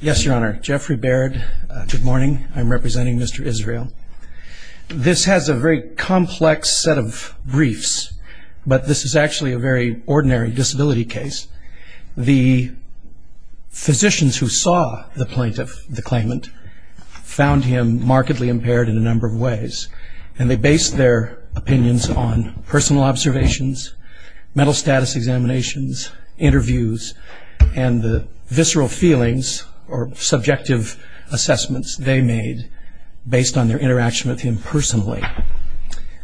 Yes, Your Honor. Jeffrey Baird. Good morning. I'm representing Mr. Israel. This has a very complex set of briefs, but this is actually a very ordinary disability case. The physicians who saw the plaintiff, the claimant, found him markedly impaired in a number of ways, and they based their opinions on personal observations, mental status examinations, interviews, and the visceral feelings or subjective assessments they made based on their interaction with him personally.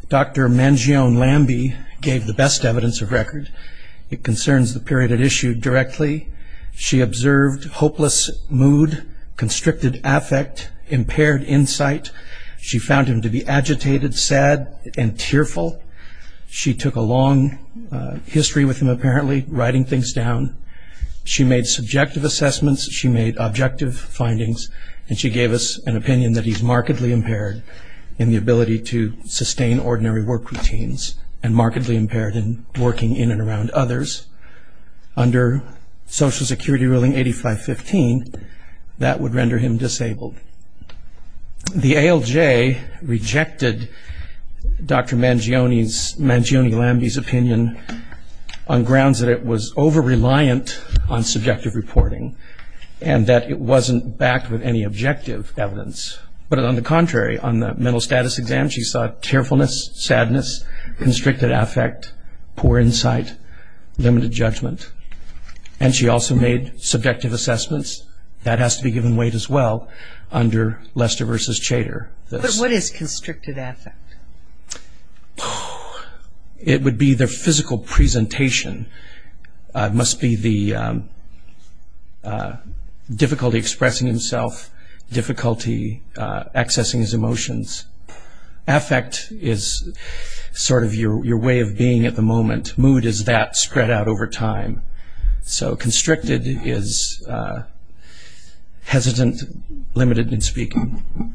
Dr. Mangione Lamby gave the best evidence of record. It concerns the period at issue directly. She observed hopeless mood, constricted affect, impaired insight. She found him to be agitated, sad, and tearful. She took a long history with him, apparently, writing things down. She made subjective assessments, she made objective findings, and she gave us an opinion that he's markedly impaired in the ability to sustain ordinary work routines and markedly impaired in working in and around others. Under Social Security ruling 8515, that would render him disabled. The ALJ rejected Dr. Mangione Lamby's opinion on grounds that it was over-reliant on subjective reporting and that it wasn't backed with any objective evidence. But on the contrary, on the mental status exam, she saw tearfulness, sadness, constricted affect, poor insight, limited judgment, and she also made subjective assessments. That has to be given weight as well under Lester v. Chater. But what is constricted affect? It would be the physical presentation. It must be the difficulty expressing himself, difficulty accessing his emotions. Affect is sort of your way of being at the moment. Mood is that spread out over time. So constricted is hesitant, limited in speaking.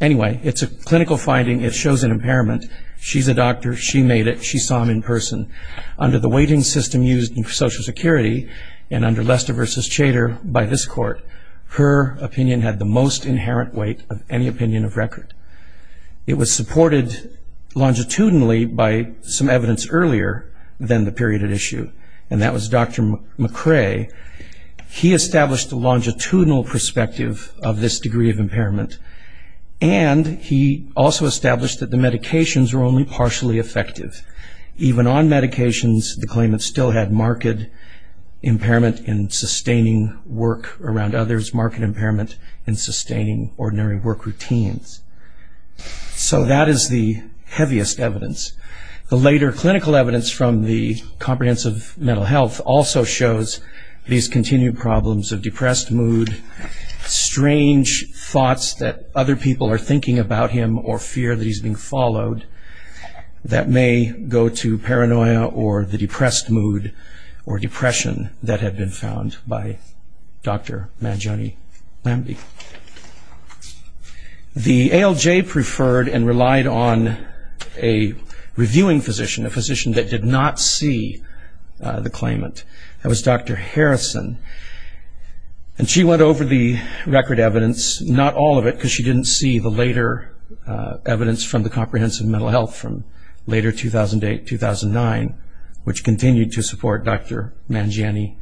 Anyway, it's a clinical finding, it shows an impairment. She's a doctor, she made it, she saw him in person. Under the weighting system used in Social Security and under Lester v. Chater by this court, her opinion had the most inherent weight of any opinion of record. It was supported longitudinally by some evidence earlier than the period at issue, and that was Dr. McRae. He established a longitudinal perspective of this degree of impairment, and he also established that the medications were only partially effective. Even on medications, the claimant still had marked impairment in sustaining work around others, marked impairment in sustaining ordinary work routines. So that is the heaviest evidence. The later clinical evidence from the Comprehensive Mental Health also shows these continued problems of depressed mood, strange thoughts that other people are thinking about him or fear that he's being followed that may go to paranoia or the depressed mood or depression that had been found by Dr. Manjani Bambi. The ALJ preferred and relied on a reviewing physician, a physician that did not see the claimant. That was Dr. Harrison, and she went over the record evidence, not all of it because she didn't see the later evidence from the Comprehensive Mental Health from later 2008-2009, which continued to support Dr. Manjani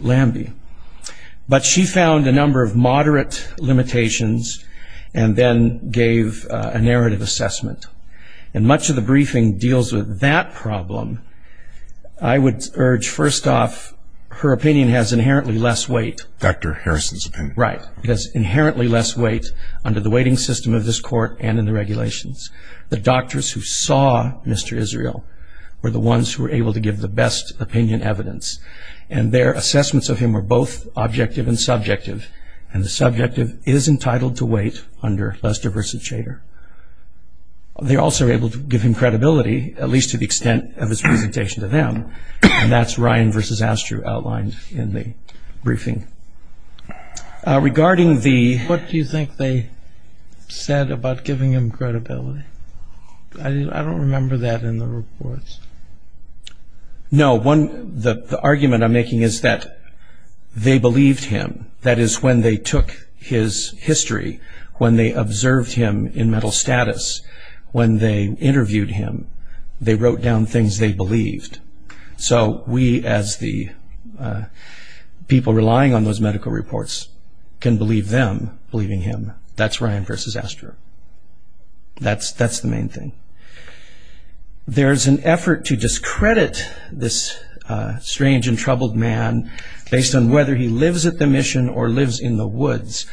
Bambi. But she found a number of moderate limitations and then gave a narrative assessment, and much of the briefing deals with that problem. I would urge, first off, her opinion has inherently less weight. Dr. Harrison's opinion. Right. It has inherently less weight under the weighting system of this court and in the regulations. The doctors who saw Mr. Israel were the ones who were able to give the best opinion evidence, and their assessments of him were both objective and subjective, and the subjective is entitled to weight under Lester v. Shader. They also were able to give him credibility, at least to the extent of his presentation to them, and that's Ryan v. Astrew outlined in the briefing. Regarding the- What do you think they said about giving him credibility? I don't remember that in the reports. No. The argument I'm making is that they believed him. That is, when they took his history, when they observed him in mental status, when they interviewed him, they wrote down things they believed. So we, as the people relying on those medical reports, can believe them believing him. That's Ryan v. Astrew. That's the main thing. There's an effort to discredit this strange and troubled man, based on whether he lives at the mission or lives in the woods.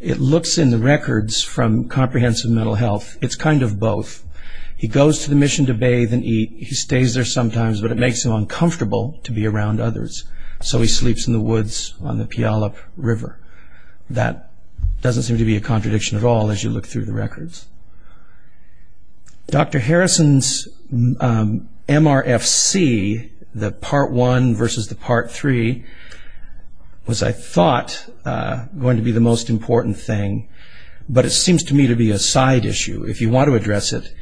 It looks in the records from Comprehensive Mental Health, it's kind of both. He goes to the mission to bathe and eat. He stays there sometimes, but it makes him uncomfortable to be around others, so he sleeps in the woods on the Puyallup River. That doesn't seem to be a contradiction at all as you look through the records. Dr. Harrison's MRFC, the Part 1 versus the Part 3, was, I thought, going to be the most important thing, but it seems to me to be a side issue. If you want to address it,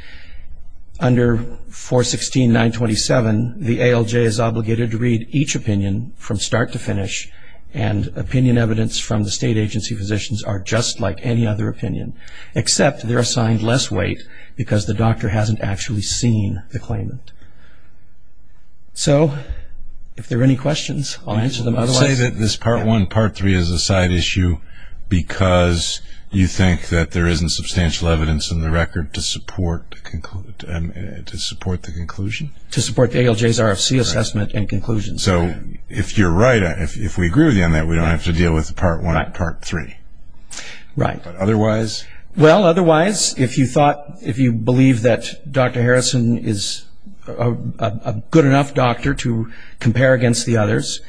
under 416.927, the ALJ is obligated to read each opinion from start to finish, and opinion evidence from the state agency physicians are just like any other opinion, except they're assigned less weight because the doctor hasn't actually seen the claimant. So, if there are any questions, I'll answer them. I would say that this Part 1, Part 3 is a side issue because you think that there isn't substantial evidence in the record to support the conclusion? To support the ALJ's RFC assessment and conclusions. So, if you're right, if we agree with you on that, we don't have to deal with Part 1 and Part 3. Right. But otherwise? Well, otherwise, if you believe that Dr. Harrison is a good enough doctor to compare against the others,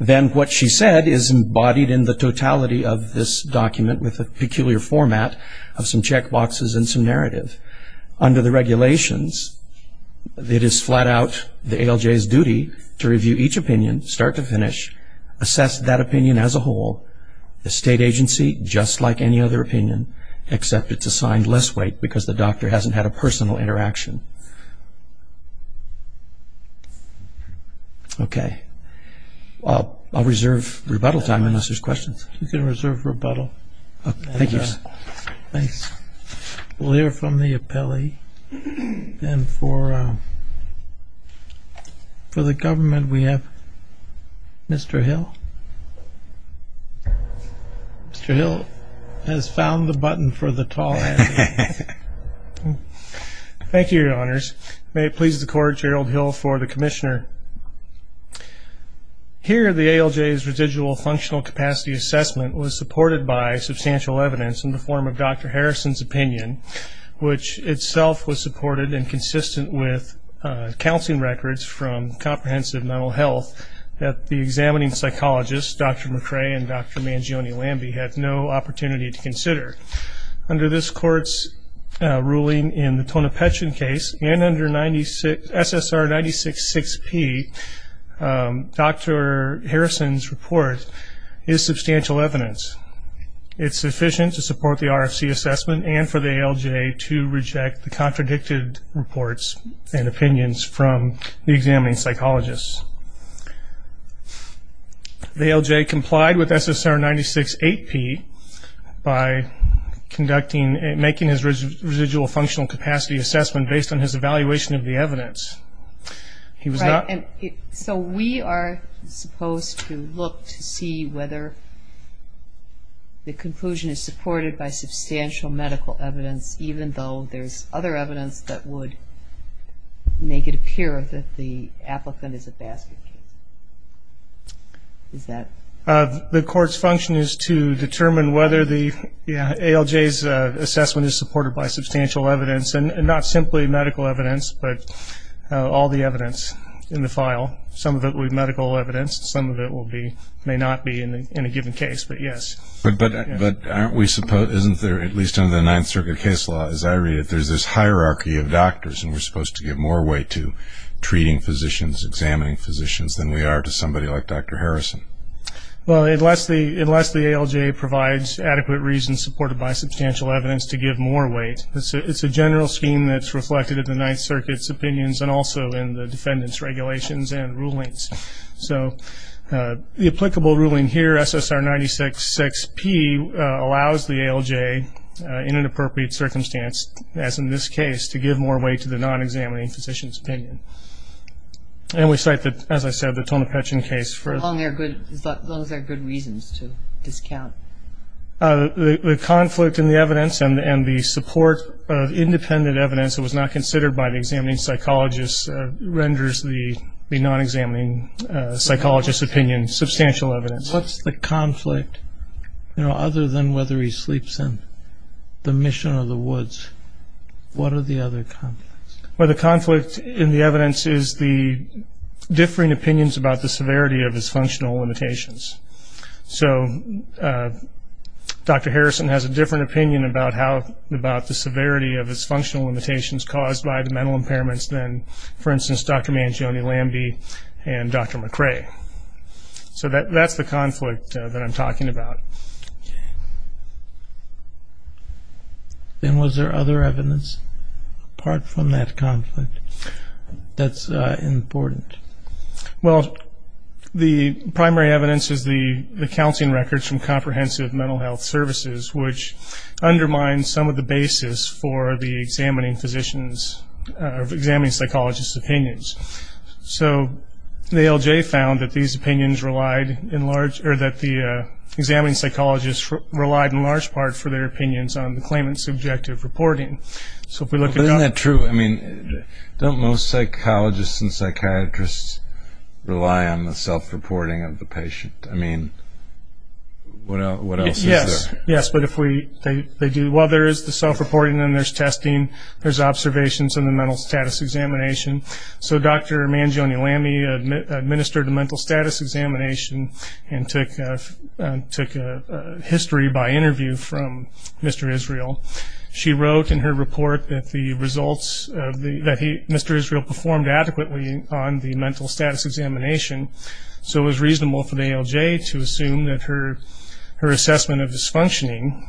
then what she said is embodied in the totality of this document with a peculiar format of some check boxes and some narrative. Under the regulations, it is flat out the ALJ's duty to review each opinion start to finish, assess that opinion as a whole, the state agency just like any other opinion, except it's assigned less weight because the doctor hasn't had a personal interaction. Okay. I'll reserve rebuttal time unless there's questions. You can reserve rebuttal. Thank you. Thanks. We'll hear from the appellee. And for the government, we have Mr. Hill. Mr. Hill has found the button for the tall hat. Thank you, Your Honors. May it please the Court, Gerald Hill for the commissioner. Here, the ALJ's residual functional capacity assessment was supported by substantial evidence in the form of Dr. Harrison's opinion, which itself was supported and consistent with counseling records from comprehensive mental health that the examining psychologist, Dr. McCray and Dr. Mangione-Lamby, had no opportunity to consider. Under this Court's ruling in the Tonopetrin case and under SSR 96-6P, Dr. Harrison's report is substantial evidence. It's sufficient to support the RFC assessment and for the ALJ to reject the contradicted reports and opinions from the examining psychologists. The ALJ complied with SSR 96-8P by conducting and making his residual functional capacity assessment based on his evaluation of the evidence. So we are supposed to look to see whether the conclusion is supported by substantial medical evidence, even though there's other evidence that would make it appear that the applicant is a basket case. The Court's function is to determine whether the ALJ's assessment is supported by substantial evidence and not simply medical evidence, but all the evidence in the file. Some of it will be medical evidence, some of it may not be in a given case, but yes. But isn't there, at least under the Ninth Circuit case law as I read it, there's this hierarchy of doctors and we're supposed to give more weight to treating physicians, examining physicians, than we are to somebody like Dr. Harrison? Well, unless the ALJ provides adequate reason supported by substantial evidence to give more weight, it's a general scheme that's reflected in the Ninth Circuit's opinions and also in the defendant's regulations and rulings. So the applicable ruling here, SSR 96-6P, allows the ALJ in an appropriate circumstance, as in this case, to give more weight to the non-examining physician's opinion. And we cite, as I said, the Tonopetchen case. As long as there are good reasons to discount. The conflict in the evidence and the support of independent evidence that was not considered by the examining psychologist renders the non-examining psychologist's opinion substantial evidence. What's the conflict? You know, other than whether he sleeps in the mission or the woods, what are the other conflicts? Well, the conflict in the evidence is the differing opinions about the severity of his functional limitations. So Dr. Harrison has a different opinion about the severity of his functional limitations caused by the mental impairments than, for instance, Dr. Mangione-Lamby and Dr. McRae. So that's the conflict that I'm talking about. Okay. Then was there other evidence apart from that conflict that's important? Well, the primary evidence is the counting records from comprehensive mental health services, which undermine some of the basis for the examining psychologist's opinions. So the ALJ found that the examining psychologist relied in large part for their opinions on the claimant's subjective reporting. But isn't that true? I mean, don't most psychologists and psychiatrists rely on the self-reporting of the patient? I mean, what else is there? Yes, but if they do, well, there is the self-reporting and there's testing, there's observations and the mental status examination. So Dr. Mangione-Lamby administered a mental status examination and took a history by interview from Mr. Israel. She wrote in her report that Mr. Israel performed adequately on the mental status examination, so it was reasonable for the ALJ to assume that her assessment of his functioning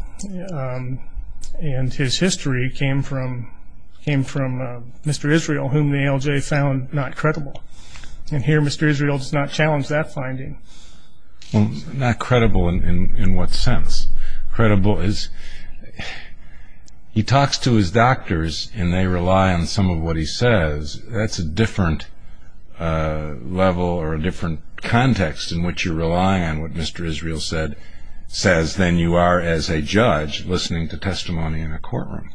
and his history came from Mr. Israel, whom the ALJ found not credible. And here Mr. Israel does not challenge that finding. Not credible in what sense? Not as credible as he talks to his doctors and they rely on some of what he says. That's a different level or a different context in which you rely on what Mr. Israel says than you are as a judge listening to testimony in a courtroom.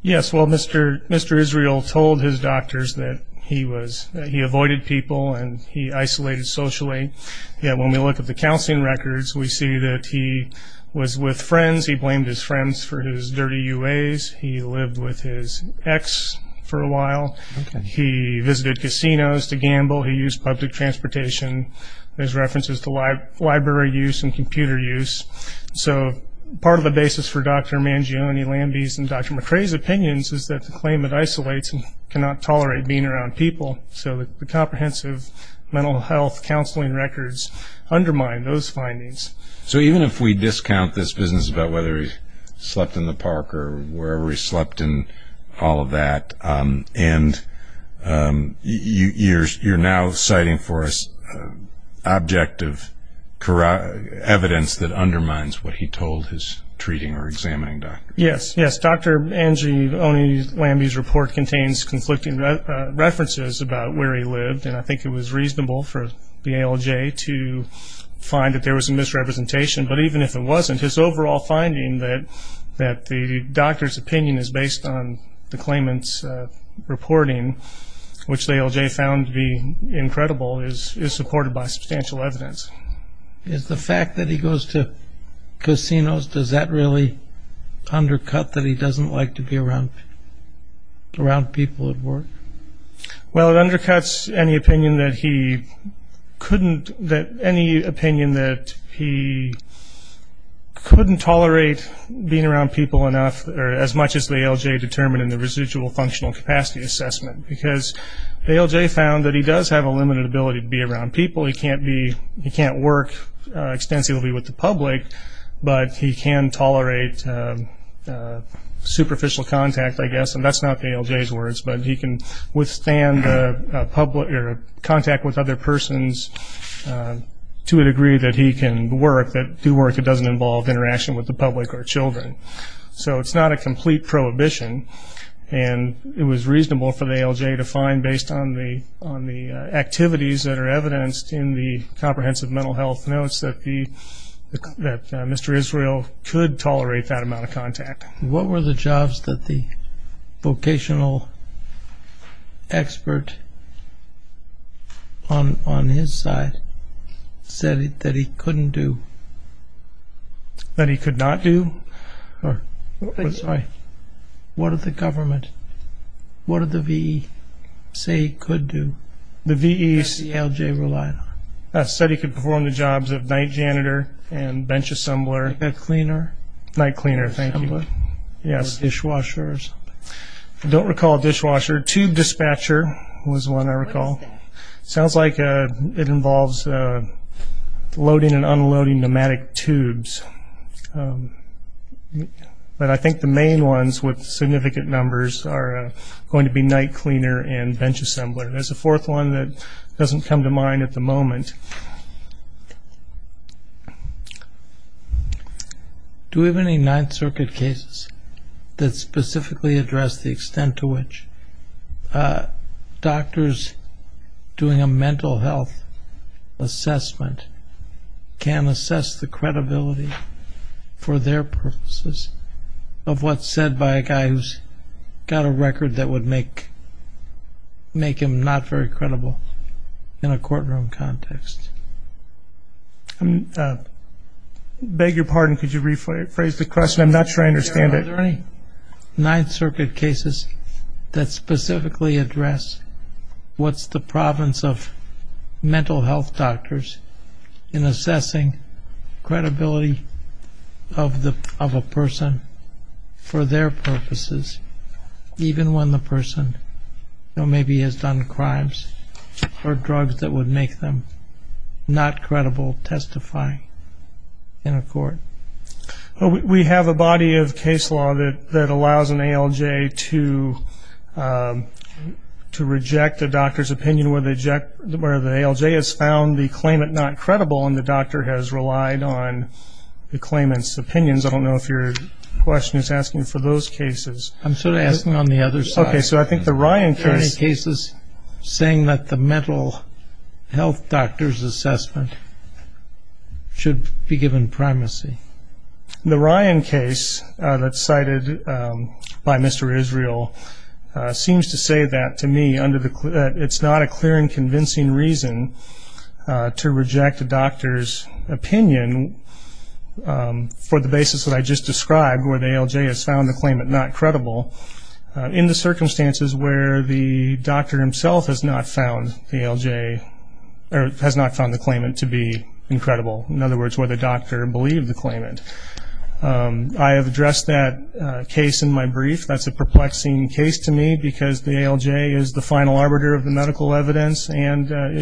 Yes, well, Mr. Israel told his doctors that he avoided people and he isolated socially. When we look at the counseling records, we see that he was with friends. He blamed his friends for his dirty UAs. He lived with his ex for a while. He visited casinos to gamble. He used public transportation as references to library use and computer use. So part of the basis for Dr. Mangione-Lamby's and Dr. McCrae's opinions is that the claimant isolates and cannot tolerate being around people. So the comprehensive mental health counseling records undermine those findings. So even if we discount this business about whether he slept in the park or wherever he slept and all of that, and you're now citing for us objective evidence that undermines what he told his treating or examining doctors. Yes, yes. Dr. Mangione-Lamby's report contains conflicting references about where he lived, and I think it was reasonable for the ALJ to find that there was a misrepresentation. But even if it wasn't, his overall finding that the doctor's opinion is based on the claimant's reporting, which the ALJ found to be incredible, is supported by substantial evidence. Is the fact that he goes to casinos, does that really undercut that he doesn't like to be around people at work? Well, it undercuts any opinion that he couldn't tolerate being around people enough, or as much as the ALJ determined in the residual functional capacity assessment, because the ALJ found that he does have a limited ability to be around people. He can't work extensively with the public, but he can tolerate superficial contact, I guess, and that's not the ALJ's words, but he can withstand contact with other persons to a degree that he can do work that doesn't involve interaction with the public or children. So it's not a complete prohibition, and it was reasonable for the ALJ to find, based on the activities that are evidenced in the comprehensive mental health notes, that Mr. Israel could tolerate that amount of contact. What were the jobs that the vocational expert on his side said that he couldn't do? That he could not do? What did the government, what did the VE say he could do that the ALJ relied on? The VE said he could perform the jobs of night janitor and bench assembler. A cleaner. Night cleaner, thank you. Dishwashers. I don't recall a dishwasher. Tube dispatcher was one I recall. Sounds like it involves loading and unloading pneumatic tubes. But I think the main ones with significant numbers are going to be night cleaner and bench assembler. There's a fourth one that doesn't come to mind at the moment. Do we have any Ninth Circuit cases that specifically address the extent to which doctors doing a mental health assessment can assess the credibility for their purposes of what's said by a guy who's got a record that would make him not very credible in a courtroom context? Beg your pardon, could you rephrase the question? I'm not sure I understand it. Are there any Ninth Circuit cases that specifically address what's the province of mental health doctors in assessing credibility of a person for their purposes, even when the person maybe has done crimes or drugs that would make them not credible testifying in a court? We have a body of case law that allows an ALJ to reject a doctor's opinion where the ALJ has found the claimant not credible and the doctor has relied on the claimant's opinions. I don't know if your question is asking for those cases. I'm sort of asking on the other side. Okay, so I think the Ryan case. saying that the mental health doctor's assessment should be given primacy. The Ryan case that's cited by Mr. Israel seems to say that to me it's not a clear and convincing reason to reject a doctor's opinion for the basis that I just described where the ALJ has found the claimant not credible in the circumstances where the doctor himself has not found the ALJ or has not found the claimant to be incredible. In other words, where the doctor believed the claimant. I have addressed that case in my brief. That's a perplexing case to me because the ALJ is the final arbiter of the medical evidence and that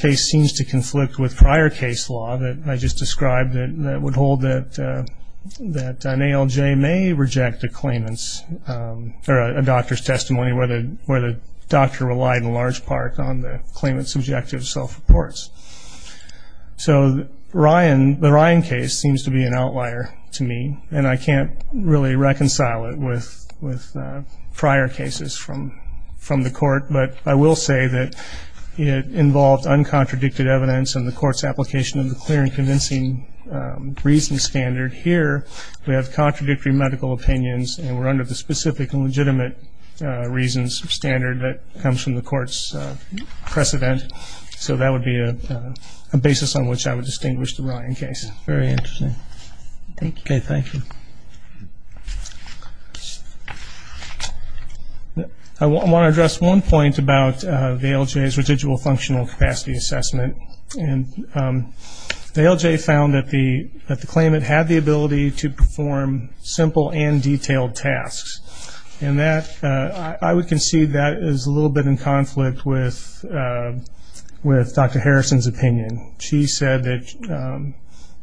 case seems to conflict with prior case law that I just described that would hold that an ALJ may reject a claimant's or a doctor's testimony where the doctor relied in large part on the claimant's subjective self-reports. So the Ryan case seems to be an outlier to me and I can't really reconcile it with prior cases from the court, but I will say that it involved uncontradicted evidence and the court's application of the clear and convincing reason standard. Here we have contradictory medical opinions and we're under the specific and legitimate reasons standard that comes from the court's precedent. So that would be a basis on which I would distinguish the Ryan case. Very interesting. Okay, thank you. I want to address one point about the ALJ's residual functional capacity assessment. The ALJ found that the claimant had the ability to perform simple and detailed tasks and I would concede that is a little bit in conflict with Dr. Harrison's opinion. She said that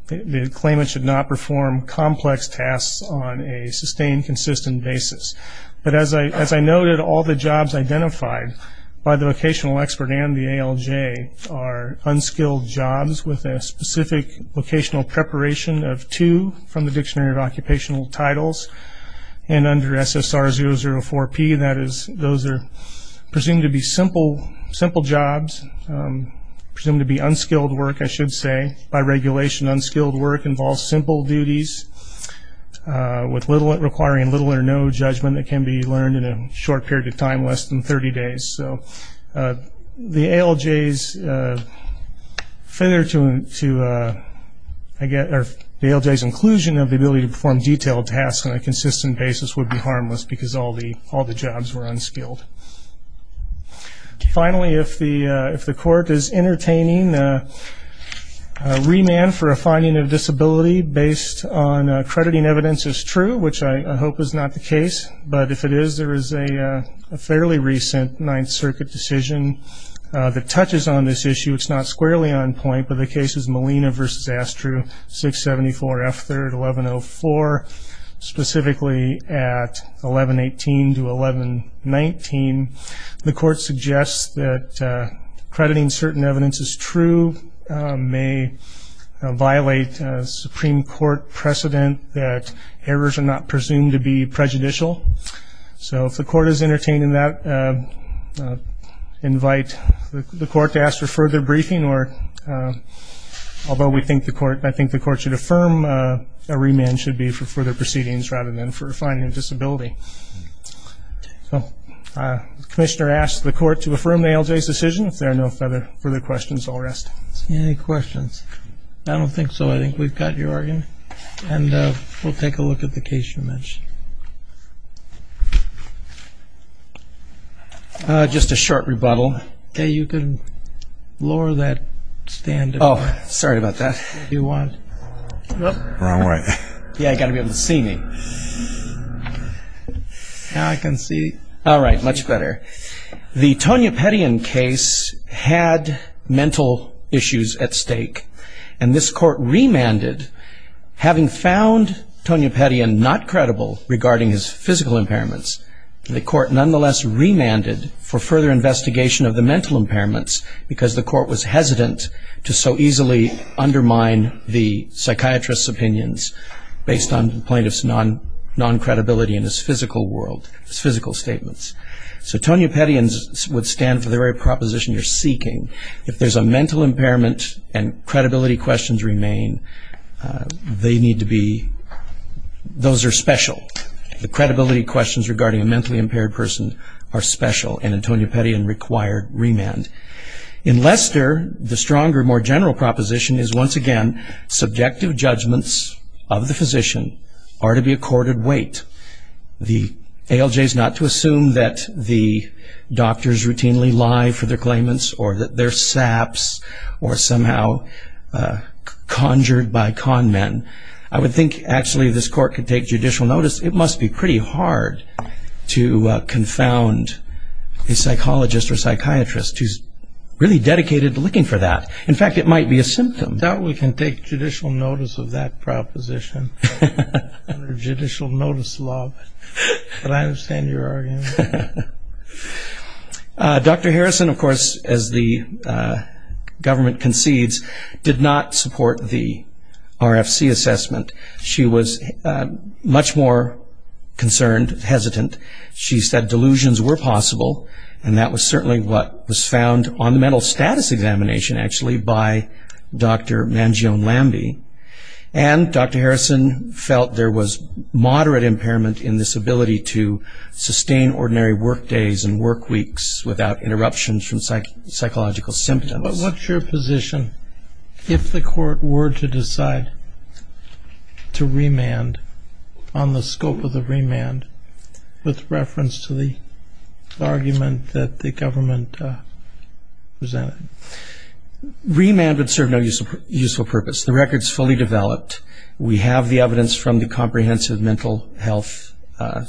the claimant should not perform complex tasks on a sustained, consistent basis. But as I noted, all the jobs identified by the vocational expert and the ALJ are unskilled jobs with a specific vocational preparation of two from the Dictionary of Occupational Titles and under SSR004P, and that is those are presumed to be simple jobs, presumed to be unskilled work, I should say. By regulation, unskilled work involves simple duties requiring little or no judgment that can be learned in a short period of time, less than 30 days. So the ALJ's inclusion of the ability to perform detailed tasks on a consistent basis would be harmless because all the jobs were unskilled. Finally, if the court is entertaining a remand for a finding of disability based on crediting evidence as true, which I hope is not the case, but if it is, there is a fairly recent Ninth Circuit decision that touches on this issue. It's not squarely on point, but the case is Molina v. Astru, 674F3-1104, specifically at 1118 to 1119. The court suggests that crediting certain evidence as true may violate Supreme Court precedent that errors are not presumed to be prejudicial. So if the court is entertaining that, invite the court to ask for further briefing, although I think the court should affirm a remand should be for further proceedings rather than for a finding of disability. So the commissioner asks the court to affirm the ALJ's decision. If there are no further questions, I'll rest. Any questions? I don't think so. I think we've got your argument, and we'll take a look at the case you mentioned. Just a short rebuttal. Okay, you can lower that stand. Oh, sorry about that. If you want. Wrong way. Yeah, you've got to be able to see me. Now I can see. All right, much better. The Tonya Pettyen case had mental issues at stake, and this court remanded. Having found Tonya Pettyen not credible regarding his physical impairments, the court nonetheless remanded for further investigation of the mental impairments because the court was hesitant to so easily undermine the psychiatrist's opinions based on the plaintiff's non-credibility in his physical world, his physical statements. So Tonya Pettyen would stand for the very proposition you're seeking. If there's a mental impairment and credibility questions remain, those are special. The credibility questions regarding a mentally impaired person are special, and Tonya Pettyen required remand. In Lester, the stronger, more general proposition is, once again, subjective judgments of the physician are to be accorded weight. The ALJ is not to assume that the doctors routinely lie for their claimants or that they're saps or somehow conjured by con men. I would think, actually, this court could take judicial notice. It must be pretty hard to confound a psychologist or psychiatrist who's really dedicated to looking for that. In fact, it might be a symptom. I doubt we can take judicial notice of that proposition under judicial notice law, but I understand your argument. Dr. Harrison, of course, as the government concedes, did not support the RFC assessment. She was much more concerned, hesitant. She said delusions were possible, and that was certainly what was found on the mental status examination, actually, by Dr. Mangione-Lamby. And Dr. Harrison felt there was moderate impairment in this ability to sustain ordinary work days and work weeks without interruptions from psychological symptoms. But what's your position if the court were to decide to remand on the scope of the remand with reference to the argument that the government presented? Remand would serve no useful purpose. The record's fully developed. We have the evidence from the comprehensive mental health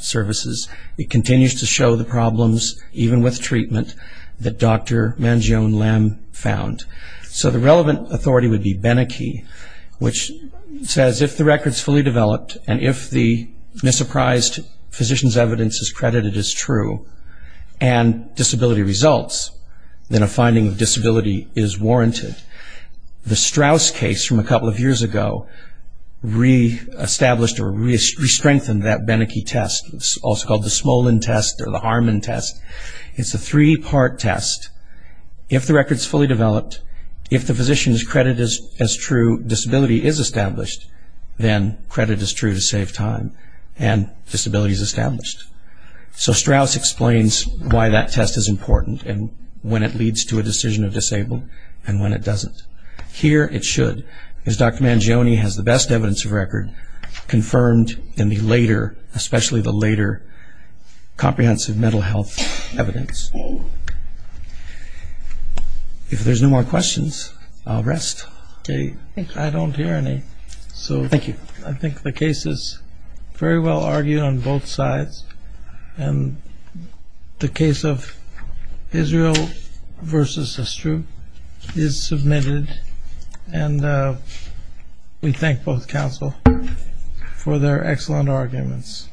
services. It continues to show the problems, even with treatment, that Dr. Mangione-Lamb found. So the relevant authority would be Beneke, which says if the record's fully developed and if the misapprised physician's evidence is credited as true and disability results, then a finding of disability is warranted. The Strauss case from a couple of years ago reestablished or restrengthened that Beneke test. It's also called the Smolin test or the Harmon test. It's a three-part test. If the record's fully developed, if the physician's credit is true, disability is established, then credit is true to save time and disability is established. So Strauss explains why that test is important and when it leads to a decision of disabled and when it doesn't. Here it should, because Dr. Mangione has the best evidence of record confirmed in the later, especially the later, comprehensive mental health evidence. If there's no more questions, I'll rest. I don't hear any. Thank you. I think the case is very well argued on both sides. And the case of Israel versus Astrup is submitted. And we thank both counsel for their excellent arguments. Thank you.